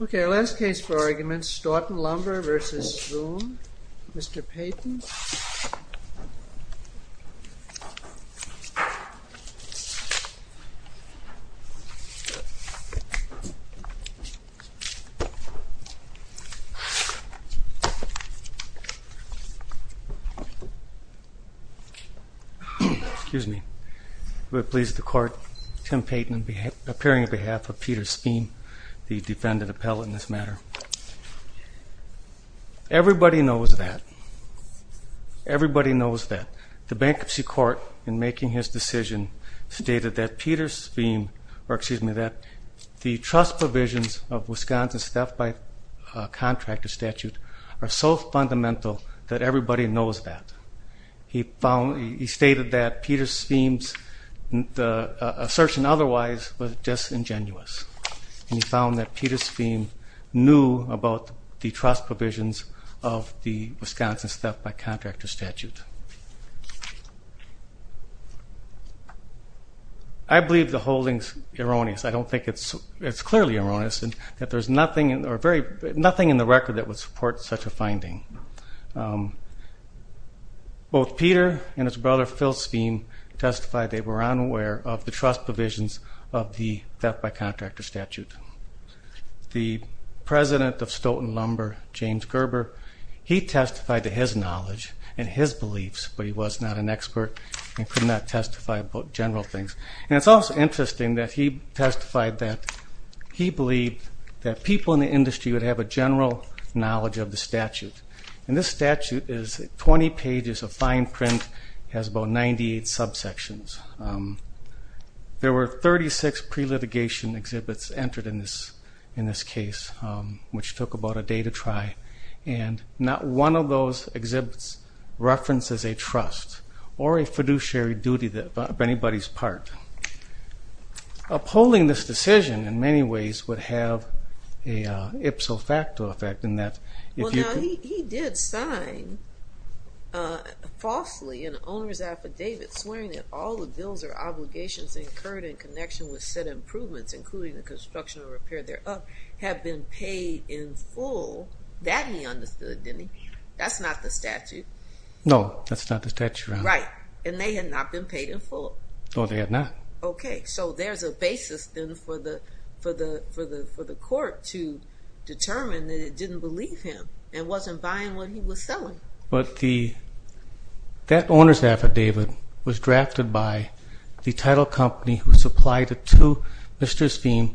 Ok, our last case for argument, Stoughton Lumber v. Sveum, Mr. Payton. Excuse me. We are pleased to court Tim Payton appearing on behalf of Peter Sveum, the defendant appellate in this matter. Everybody knows that. Everybody knows that. The Bankruptcy Court, in making his decision, stated that Peter Sveum, or excuse me, that the trust provisions of Wisconsin's Theft by Contractor Statute. I believe the holding is erroneous. I don't think it's clearly erroneous that there's nothing in the record that would support such a finding. Both Peter and his brother Phil Sveum testified they were unaware of the trust provisions of the Theft by Contractor Statute. The President of Stoughton Lumber, James Gerber, he testified to his knowledge and his beliefs, but he was not an expert and could not testify about general things. And it's also interesting that he testified that he believed that people in the industry would have a general knowledge of the statute. And this statute is 20 pages of fine print, has about 98 subsections. There were 36 pre-litigation exhibits entered in this case, which took about a day to try, and not one of those exhibits references a trust or a fiduciary duty of anybody's part. Upholding this decision, in many ways, would have an ipso facto effect. He did sign falsely an owner's affidavit swearing that all the bills or obligations incurred in connection with said improvements, including the construction or repair thereof, have been paid in full. That he understood, didn't he? That's not the statute. No, that's not the statute, Your Honor. Right. And they had not been paid in full. No, they had not. Okay, so there's a basis then for the court to determine that it didn't believe him and wasn't buying what he was selling. But that owner's affidavit was drafted by the title company who supplied the two Mr. Spheme,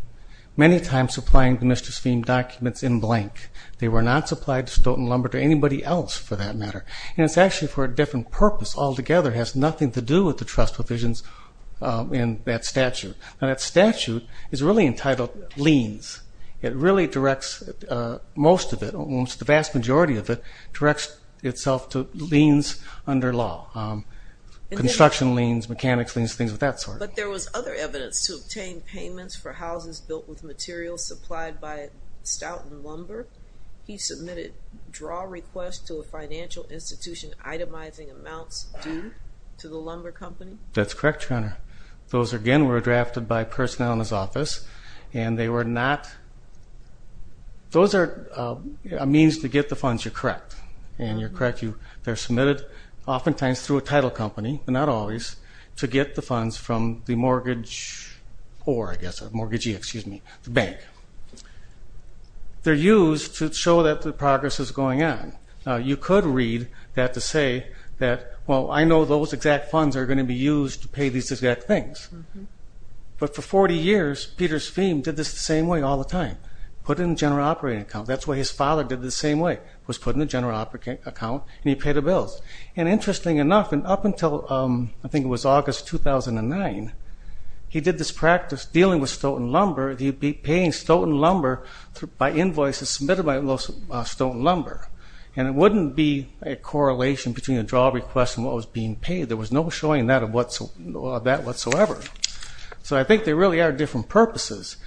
many times supplying the Mr. Spheme documents in blank. They were not supplied to Stoughton Lumber to anybody else, for that matter. And it's actually for a different purpose altogether. It has nothing to do with the trust provisions in that statute. Now, that statute is really entitled liens. It really directs most of it, almost the vast majority of it, directs itself to liens under law. Construction liens, mechanics liens, things of that sort. But there was other evidence to obtain payments for houses built with materials supplied by Stoughton Lumber. He submitted draw requests to a financial institution itemizing amounts due to the lumber company. That's correct, Your Honor. Those, again, were drafted by personnel in his office, and they were not – those are a means to get the funds. You're correct. And you're correct. They're submitted oftentimes through a title company, but not always, to get the funds from the mortgage or, I guess, mortgagee, excuse me, the bank. They're used to show that the progress is going on. Now, you could read that to say that, well, I know those exact funds are going to be used to pay these exact things. But for 40 years, Peter Spheam did this the same way all the time, put it in a general operating account. That's why his father did it the same way, was put in a general operating account, and he paid the bills. And interesting enough, and up until I think it was August 2009, he did this practice dealing with Stoughton Lumber. He'd be paying Stoughton Lumber by invoices submitted by Stoughton Lumber. And it wouldn't be a correlation between a draw request and what was being paid. There was no showing that whatsoever. So I think they really are different purposes.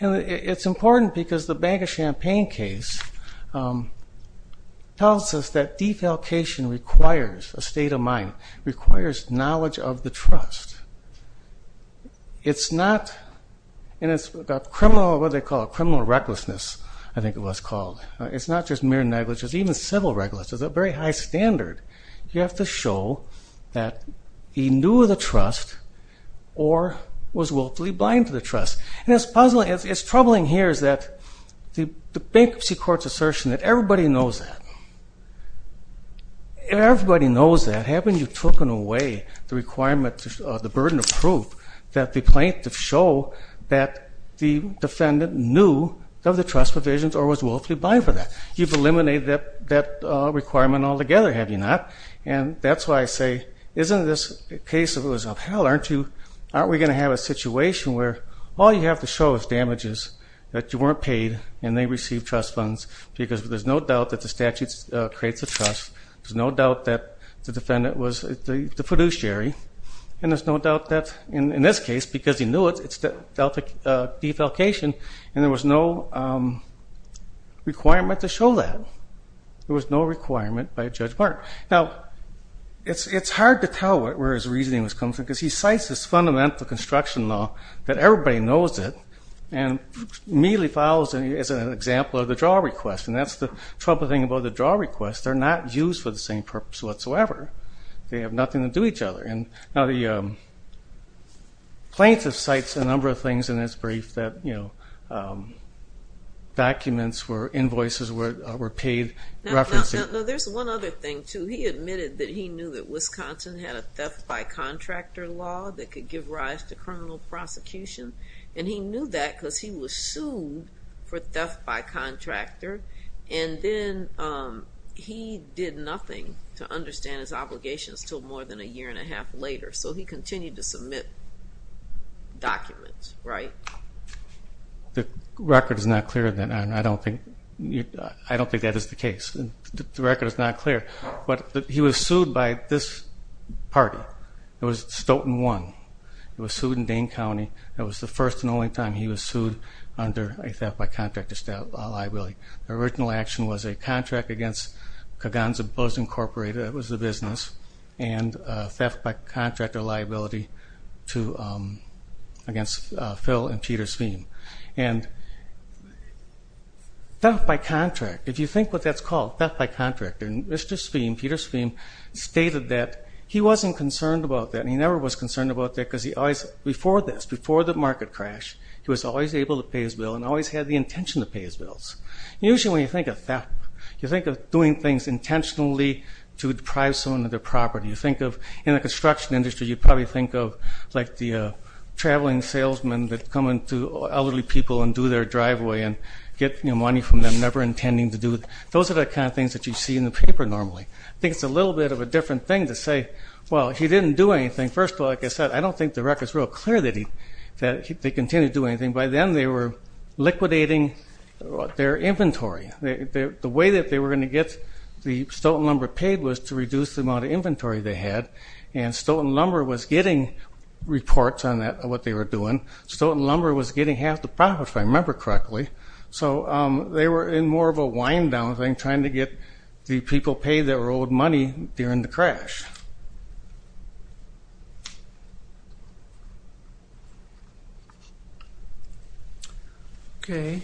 And it's important because the Bank of Champaign case tells us that defalcation requires a state of mind, requires knowledge of the trust. It's not, and it's what they call criminal recklessness, I think it was called. It's not just mere negligence, even civil recklessness, a very high standard. You have to show that he knew the trust or was willfully blind to the trust. And it's troubling here is that the Bankruptcy Court's assertion that everybody knows that, everybody knows that. Haven't you taken away the requirement, the burden of proof that the plaintiff show that the defendant knew of the trust provisions or was willfully blind for that? You've eliminated that requirement altogether, have you not? And that's why I say, isn't this case of hell, aren't we going to have a situation where all you have to show is damages that you weren't paid and they received trust funds? Because there's no doubt that the statute creates a trust. There's no doubt that the defendant was the fiduciary. And there's no doubt that in this case, because he knew it, it's defalcation. And there was no requirement to show that. There was no requirement by Judge Martin. Now, it's hard to tell where his reasoning was coming from because he cites this fundamental construction law that everybody knows it and immediately follows it as an example of the draw request. And that's the troubling thing about the draw request. They're not used for the same purpose whatsoever. They have nothing to do with each other. Now, the plaintiff cites a number of things in his brief that, you know, documents or invoices were paid referencing. Now, there's one other thing, too. He admitted that he knew that Wisconsin had a theft by contractor law that could give rise to criminal prosecution. And he knew that because he was sued for theft by contractor. And then he did nothing to understand his obligations until more than a year and a half later. So he continued to submit documents, right? The record is not clear on that. I don't think that is the case. The record is not clear. But he was sued by this party. It was Stoughton 1. It was sued in Dane County. That was the first and only time he was sued under a theft by contractor liability. The original action was a contract against Kaganza Bows Incorporated. That was the business. And theft by contractor liability against Phil and Peter Sveem. And theft by contract, if you think what that's called, theft by contractor. And Mr. Sveem, Peter Sveem, stated that he wasn't concerned about that. And he never was concerned about that because he always, before this, before the market crash, he was always able to pay his bill and always had the intention to pay his bills. Usually when you think of theft, you think of doing things intentionally to deprive someone of their property. You think of, in the construction industry, you probably think of like the traveling salesmen that come into elderly people and do their driveway and get money from them never intending to do it. Those are the kind of things that you see in the paper normally. I think it's a little bit of a different thing to say, well, he didn't do anything. First of all, like I said, I don't think the record is real clear that he continued to do anything. By then they were liquidating their inventory. The way that they were going to get the Stoughton Lumber paid was to reduce the amount of inventory they had. And Stoughton Lumber was getting reports on what they were doing. Stoughton Lumber was getting half the profits, if I remember correctly. So they were in more of a wind-down thing, trying to get the people paid their old money during the crash. Okay.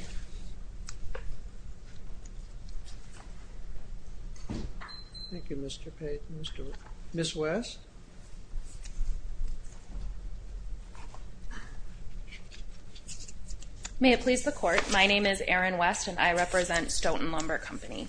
Thank you, Mr. Payton. Ms. West? May it please the Court. My name is Erin West, and I represent Stoughton Lumber Company.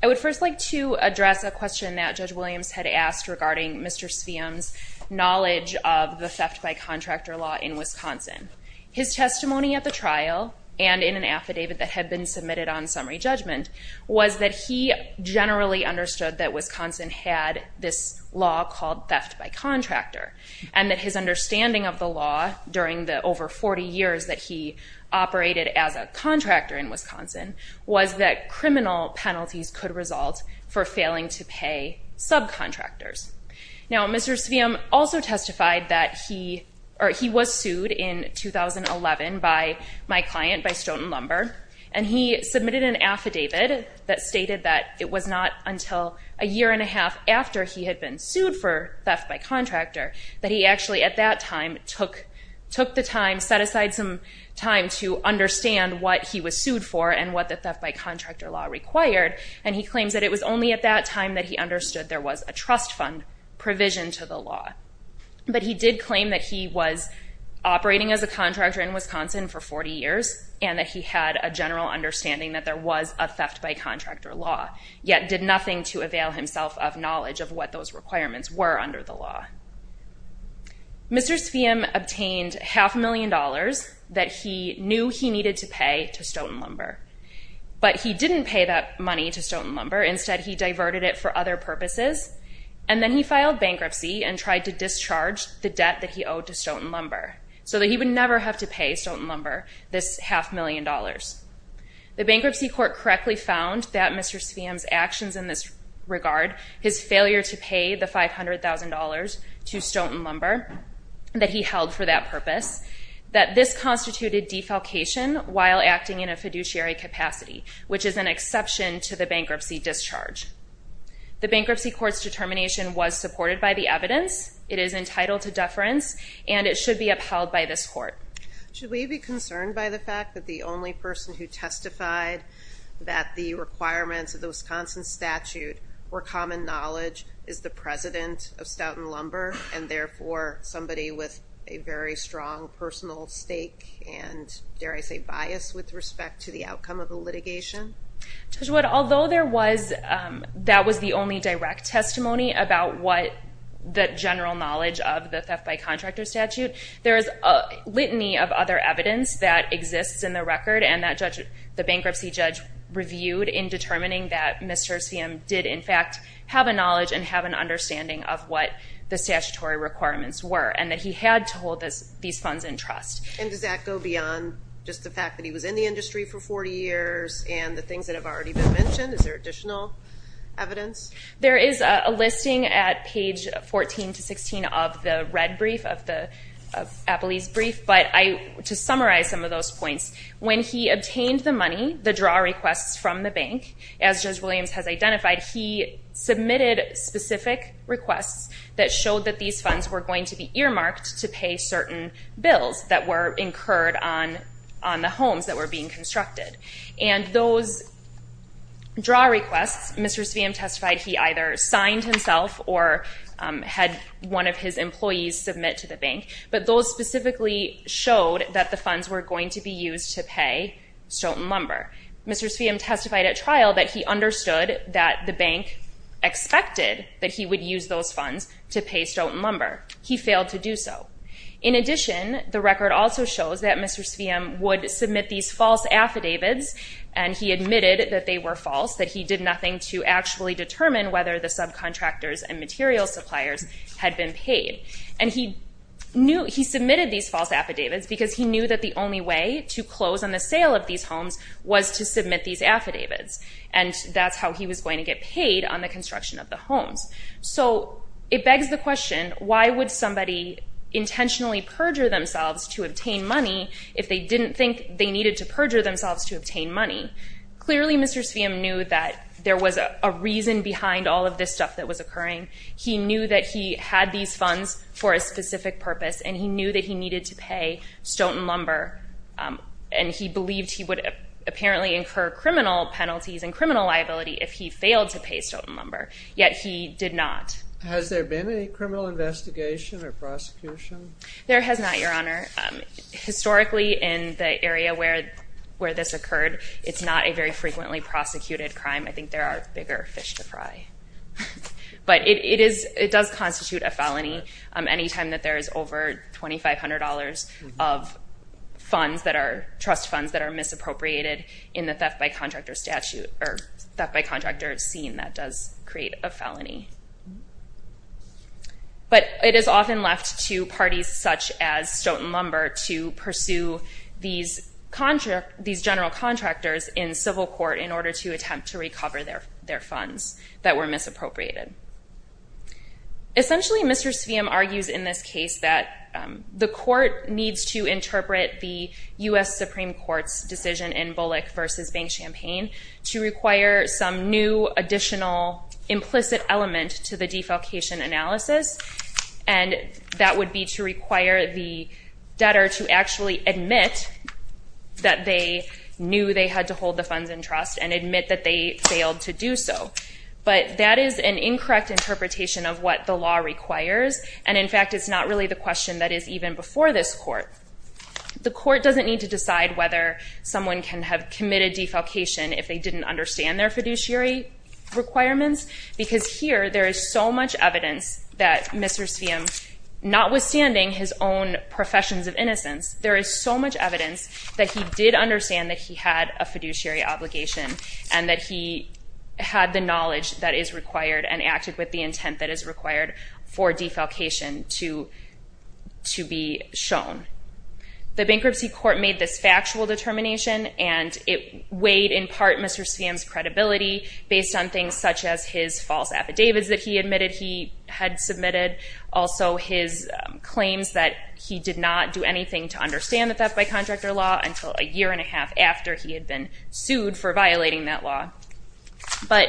I would first like to address a question that Judge Williams had asked regarding Mr. Sveum's knowledge of the theft-by-contractor law in Wisconsin. His testimony at the trial and in an affidavit that had been submitted on summary judgment was that he generally understood that Wisconsin had this law called theft-by-contractor, and that his understanding of the law during the over 40 years that he operated as a contractor in Wisconsin was that criminal penalties could result for failing to pay subcontractors. Now, Mr. Sveum also testified that he was sued in 2011 by my client, by Stoughton Lumber, and he submitted an affidavit that stated that it was not until a year and a half after he had been sued for theft-by-contractor that he actually at that time took the time, set aside some time to understand what he was sued for and what the theft-by-contractor law required, and he claims that it was only at that time that he understood there was a trust fund provision to the law. But he did claim that he was operating as a contractor in Wisconsin for 40 years and that he had a general understanding that there was a theft-by-contractor law, yet did nothing to avail himself of knowledge of what those requirements were under the law. Mr. Sveum obtained half a million dollars that he knew he needed to pay to Stoughton Lumber, but he didn't pay that money to Stoughton Lumber. Instead, he diverted it for other purposes, and then he filed bankruptcy and tried to discharge the debt that he owed to Stoughton Lumber so that he would never have to pay Stoughton Lumber this half million dollars. The bankruptcy court correctly found that Mr. Sveum's actions in this regard, his failure to pay the $500,000 to Stoughton Lumber that he held for that purpose, that this constituted defalcation while acting in a fiduciary capacity, which is an exception to the bankruptcy discharge. The bankruptcy court's determination was supported by the evidence. It is entitled to deference, and it should be upheld by this court. Should we be concerned by the fact that the only person who testified that the requirements of the Wisconsin statute were common knowledge is the president of Stoughton Lumber, and therefore somebody with a very strong personal stake and, dare I say, bias with respect to the outcome of the litigation? Judge Wood, although that was the only direct testimony about the general knowledge of the theft by contractor statute, there is a litany of other evidence that exists in the record and that the bankruptcy judge reviewed in determining that Mr. Sveum did, in fact, have a knowledge and have an understanding of what the statutory requirements were and that he had to hold these funds in trust. And does that go beyond just the fact that he was in the industry for 40 years and the things that have already been mentioned? Is there additional evidence? There is a listing at page 14 to 16 of the red brief, of Appley's brief, but to summarize some of those points, when he obtained the money, the draw requests from the bank, as Judge Williams has identified, he submitted specific requests that showed that these funds were going to be earmarked to pay certain bills that were incurred on the homes that were being constructed. And those draw requests, Mr. Sveum testified he either signed himself or had one of his employees submit to the bank, but those specifically showed that the funds were going to be used to pay Stoughton Lumber. Mr. Sveum testified at trial that he understood that the bank expected that he would use those funds to pay Stoughton Lumber. He failed to do so. In addition, the record also shows that Mr. Sveum would submit these false affidavits, and he admitted that they were false, that he did nothing to actually determine whether the subcontractors and material suppliers had been paid. And he submitted these false affidavits because he knew that the only way to close on the sale of these homes was to submit these affidavits, and that's how he was going to get paid on the construction of the homes. So it begs the question, why would somebody intentionally perjure themselves to obtain money if they didn't think they needed to perjure themselves to obtain money? Clearly, Mr. Sveum knew that there was a reason behind all of this stuff that was occurring. He knew that he had these funds for a specific purpose, and he knew that he needed to pay Stoughton Lumber, and he believed he would apparently incur criminal penalties and criminal liability if he failed to pay Stoughton Lumber. Yet he did not. Has there been a criminal investigation or prosecution? There has not, Your Honor. Historically, in the area where this occurred, it's not a very frequently prosecuted crime. I think there are bigger fish to fry. But it does constitute a felony any time that there is over $2,500 of funds that are trust funds that are misappropriated in the theft by contractor statute or theft by contractor scene that does create a felony. But it is often left to parties such as Stoughton Lumber to pursue these general contractors in civil court in order to attempt to recover their funds that were misappropriated. Essentially, Mr. Sveum argues in this case that the court needs to interpret the U.S. Supreme Court's decision in Bullock v. Bank Champaign to require some new, additional, implicit element to the defalcation analysis, and that would be to require the debtor to actually admit that they knew they had to hold the funds in trust and admit that they failed to do so. But that is an incorrect interpretation of what the law requires, and in fact it's not really the question that is even before this court. The court doesn't need to decide whether someone can have committed defalcation if they didn't understand their fiduciary requirements, because here there is so much evidence that Mr. Sveum, notwithstanding his own professions of innocence, there is so much evidence that he did understand that he had a fiduciary obligation and that he had the knowledge that is required and acted with the intent that is required for defalcation to be shown. The bankruptcy court made this factual determination, and it weighed in part Mr. Sveum's credibility based on things such as his false affidavits that he admitted he had submitted, also his claims that he did not do anything to understand the theft by contractor law until a year and a half after he had been sued for violating that law. But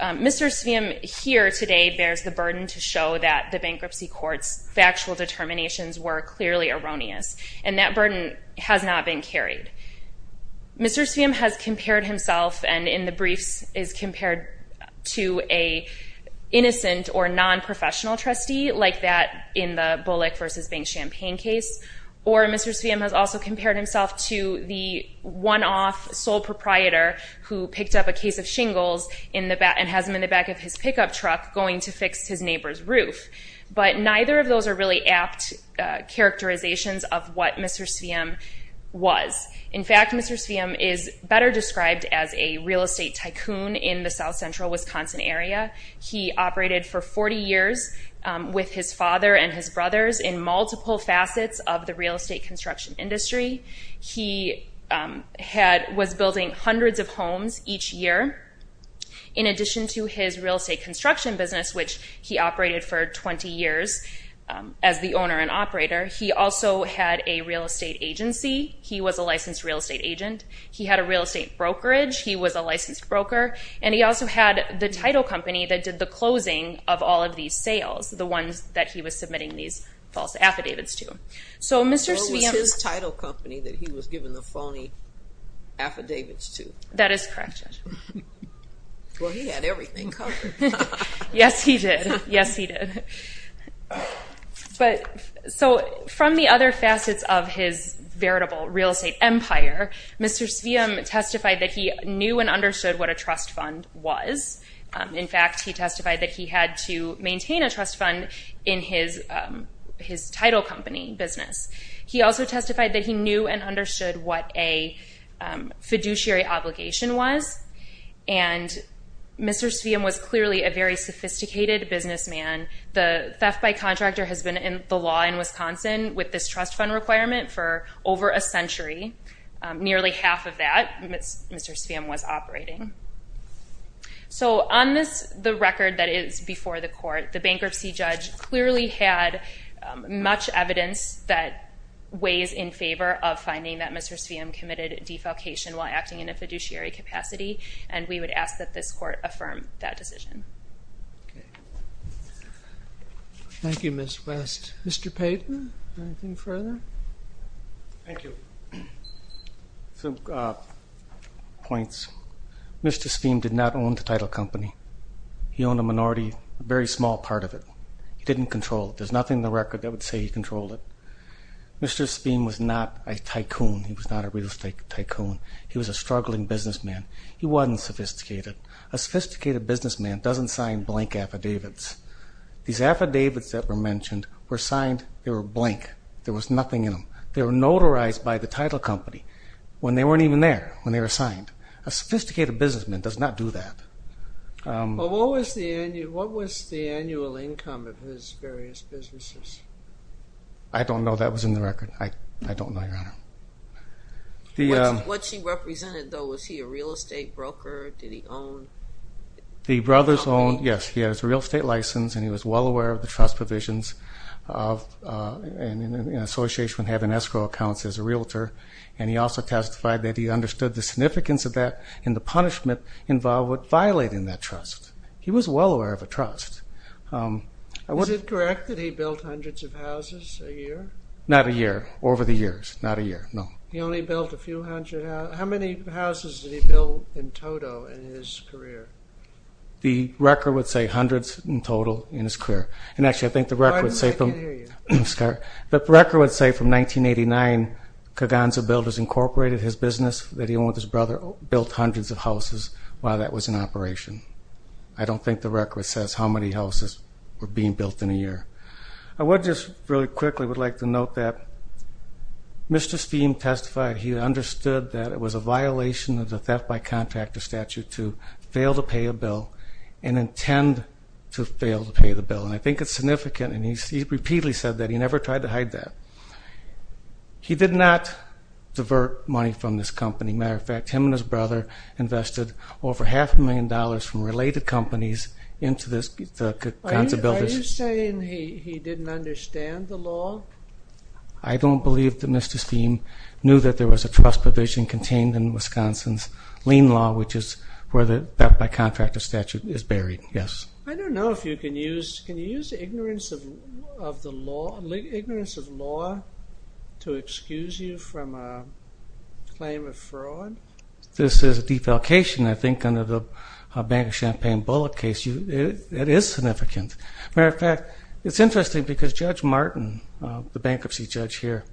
Mr. Sveum here today bears the burden to show that the bankruptcy court's factual determinations were clearly erroneous, and that burden has not been carried. Mr. Sveum has compared himself, and in the briefs, is compared to an innocent or non-professional trustee like that in the Bullock v. Bank Champagne case, or Mr. Sveum has also compared himself to the one-off sole proprietor who picked up a case of shingles and has them in the back of his pickup truck going to fix his neighbor's roof. But neither of those are really apt characterizations of what Mr. Sveum was. In fact, Mr. Sveum is better described as a real estate tycoon in the south-central Wisconsin area. He operated for 40 years with his father and his brothers in multiple facets of the real estate construction industry. He was building hundreds of homes each year. In addition to his real estate construction business, which he operated for 20 years as the owner and operator, he also had a real estate agency. He was a licensed real estate agent. He had a real estate brokerage. He was a licensed broker, and he also had the title company that did the closing of all of these sales, the ones that he was submitting these false affidavits to. What was his title company that he was giving the phony affidavits to? That is correct, Judge. Well, he had everything covered. Yes, he did. Yes, he did. So from the other facets of his veritable real estate empire, Mr. Sveum testified that he knew and understood what a trust fund was. In fact, he testified that he had to maintain a trust fund in his title company business. He also testified that he knew and understood what a fiduciary obligation was, and Mr. Sveum was clearly a very sophisticated businessman. The theft by contractor has been the law in Wisconsin with this trust fund requirement for over a century. Nearly half of that Mr. Sveum was operating. So on the record that is before the court, the bankruptcy judge clearly had much evidence that weighs in favor of finding that Mr. Sveum committed defalcation while acting in a fiduciary capacity, and we would ask that this court affirm that decision. Okay. Thank you, Ms. West. Mr. Payton, anything further? Thank you. Some points. Mr. Sveum did not own the title company. He owned a minority, a very small part of it. He didn't control it. There's nothing in the record that would say he controlled it. Mr. Sveum was not a tycoon. He was not a real estate tycoon. He was a struggling businessman. He wasn't sophisticated. A sophisticated businessman doesn't sign blank affidavits. These affidavits that were mentioned were signed, they were blank. There was nothing in them. They were notarized by the title company when they weren't even there, when they were signed. A sophisticated businessman does not do that. What was the annual income of his various businesses? I don't know. That was in the record. I don't know, Your Honor. What she represented, though, was he a real estate broker? Did he own? The brothers owned, yes, he has a real estate license, and he was well aware of the trust provisions in association with having escrow accounts as a realtor, and he also testified that he understood the significance of that and the punishment involved with violating that trust. He was well aware of a trust. Is it correct that he built hundreds of houses a year? Not a year, over the years, not a year, no. He only built a few hundred. How many houses did he build in total in his career? The record would say hundreds in total in his career. And, actually, I think the record would say from 1989, Kaganza Builders Incorporated, his business that he owned with his brother, built hundreds of houses while that was in operation. I don't think the record says how many houses were being built in a year. I would just really quickly would like to note that Mr. Steem testified he understood that it was a violation of the theft by contractor statute to fail to pay a bill and intend to fail to pay the bill. And I think it's significant, and he repeatedly said that. He never tried to hide that. He did not divert money from this company. Matter of fact, him and his brother invested over half a million dollars from related companies into the Kaganza Builders. Are you saying he didn't understand the law? I don't believe that Mr. Steem knew that there was a trust provision contained in Wisconsin's lien law, which is where the theft by contractor statute is buried, yes. I don't know if you can use the ignorance of law to excuse you from a claim of fraud. This is a defalcation, I think, under the Bank of Champaign Bullock case. It is significant. Matter of fact, it's interesting because Judge Martin, the bankruptcy judge here,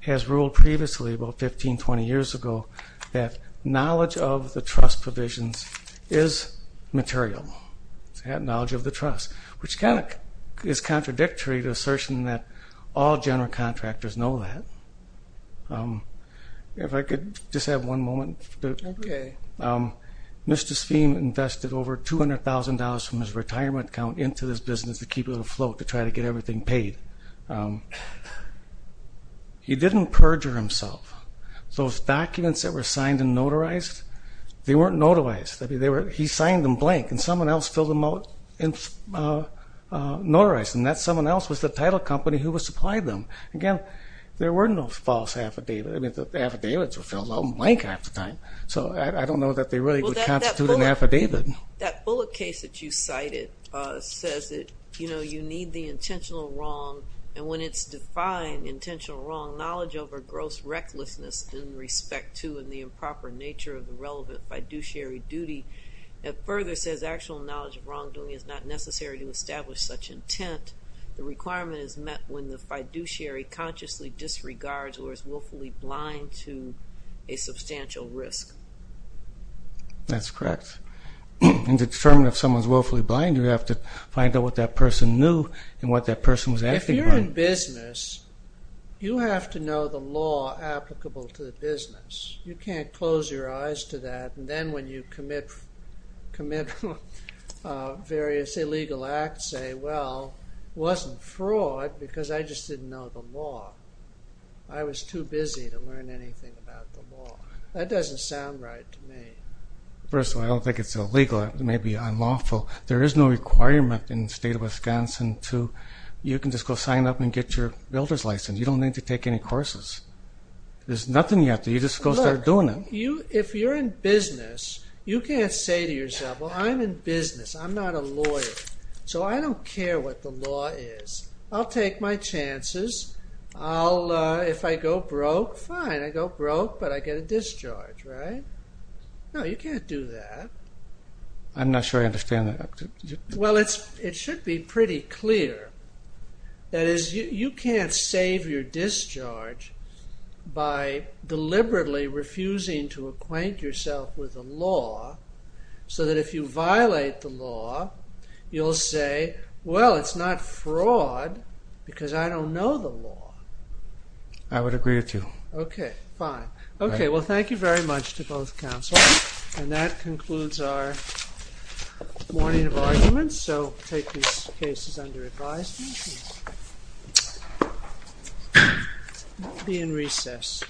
has ruled previously, about 15, 20 years ago, that knowledge of the trust provisions is material. He had knowledge of the trust, which kind of is contradictory to the assertion that all general contractors know that. If I could just have one moment. Okay. Mr. Steem invested over $200,000 from his retirement account into this business to keep it afloat, to try to get everything paid. He didn't perjure himself. Those documents that were signed and notarized, they weren't notarized. He signed them blank, and someone else filled them out and notarized them. That someone else was the title company who was supplying them. Again, there were no false affidavits. I mean, the affidavits were filled out blank half the time. So I don't know that they really constituted an affidavit. That Bullock case that you cited says that you need the intentional wrong, and when it's defined intentional wrong, knowledge over gross recklessness in respect to and the improper nature of the relevant fiduciary duty. It further says actual knowledge of wrongdoing is not necessary to establish such intent. The requirement is met when the fiduciary consciously disregards or is willfully blind to a substantial risk. That's correct. And to determine if someone's willfully blind, you have to find out what that person knew and what that person was asking about. If you're in business, you have to know the law applicable to the business. You can't close your eyes to that, and then when you commit various illegal acts, say, well, it wasn't fraud because I just didn't know the law. I was too busy to learn anything about the law. That doesn't sound right to me. First of all, I don't think it's illegal. It may be unlawful. There is no requirement in the state of Wisconsin to you can just go sign up and get your builder's license. You don't need to take any courses. There's nothing you have to do. You just go start doing it. Look, if you're in business, you can't say to yourself, well, I'm in business. I'm not a lawyer, so I don't care what the law is. I'll take my chances. If I go broke, fine. I go broke, but I get a discharge, right? No, you can't do that. I'm not sure I understand that. Well, it should be pretty clear. That is, you can't save your discharge by deliberately refusing to acquaint yourself with the law so that if you violate the law, you'll say, well, it's not fraud because I don't know the law. I would agree with you. Okay, fine. Okay, well, thank you very much to both counsel. And that concludes our morning of arguments. I do so take these cases under advisement. We'll be in recess.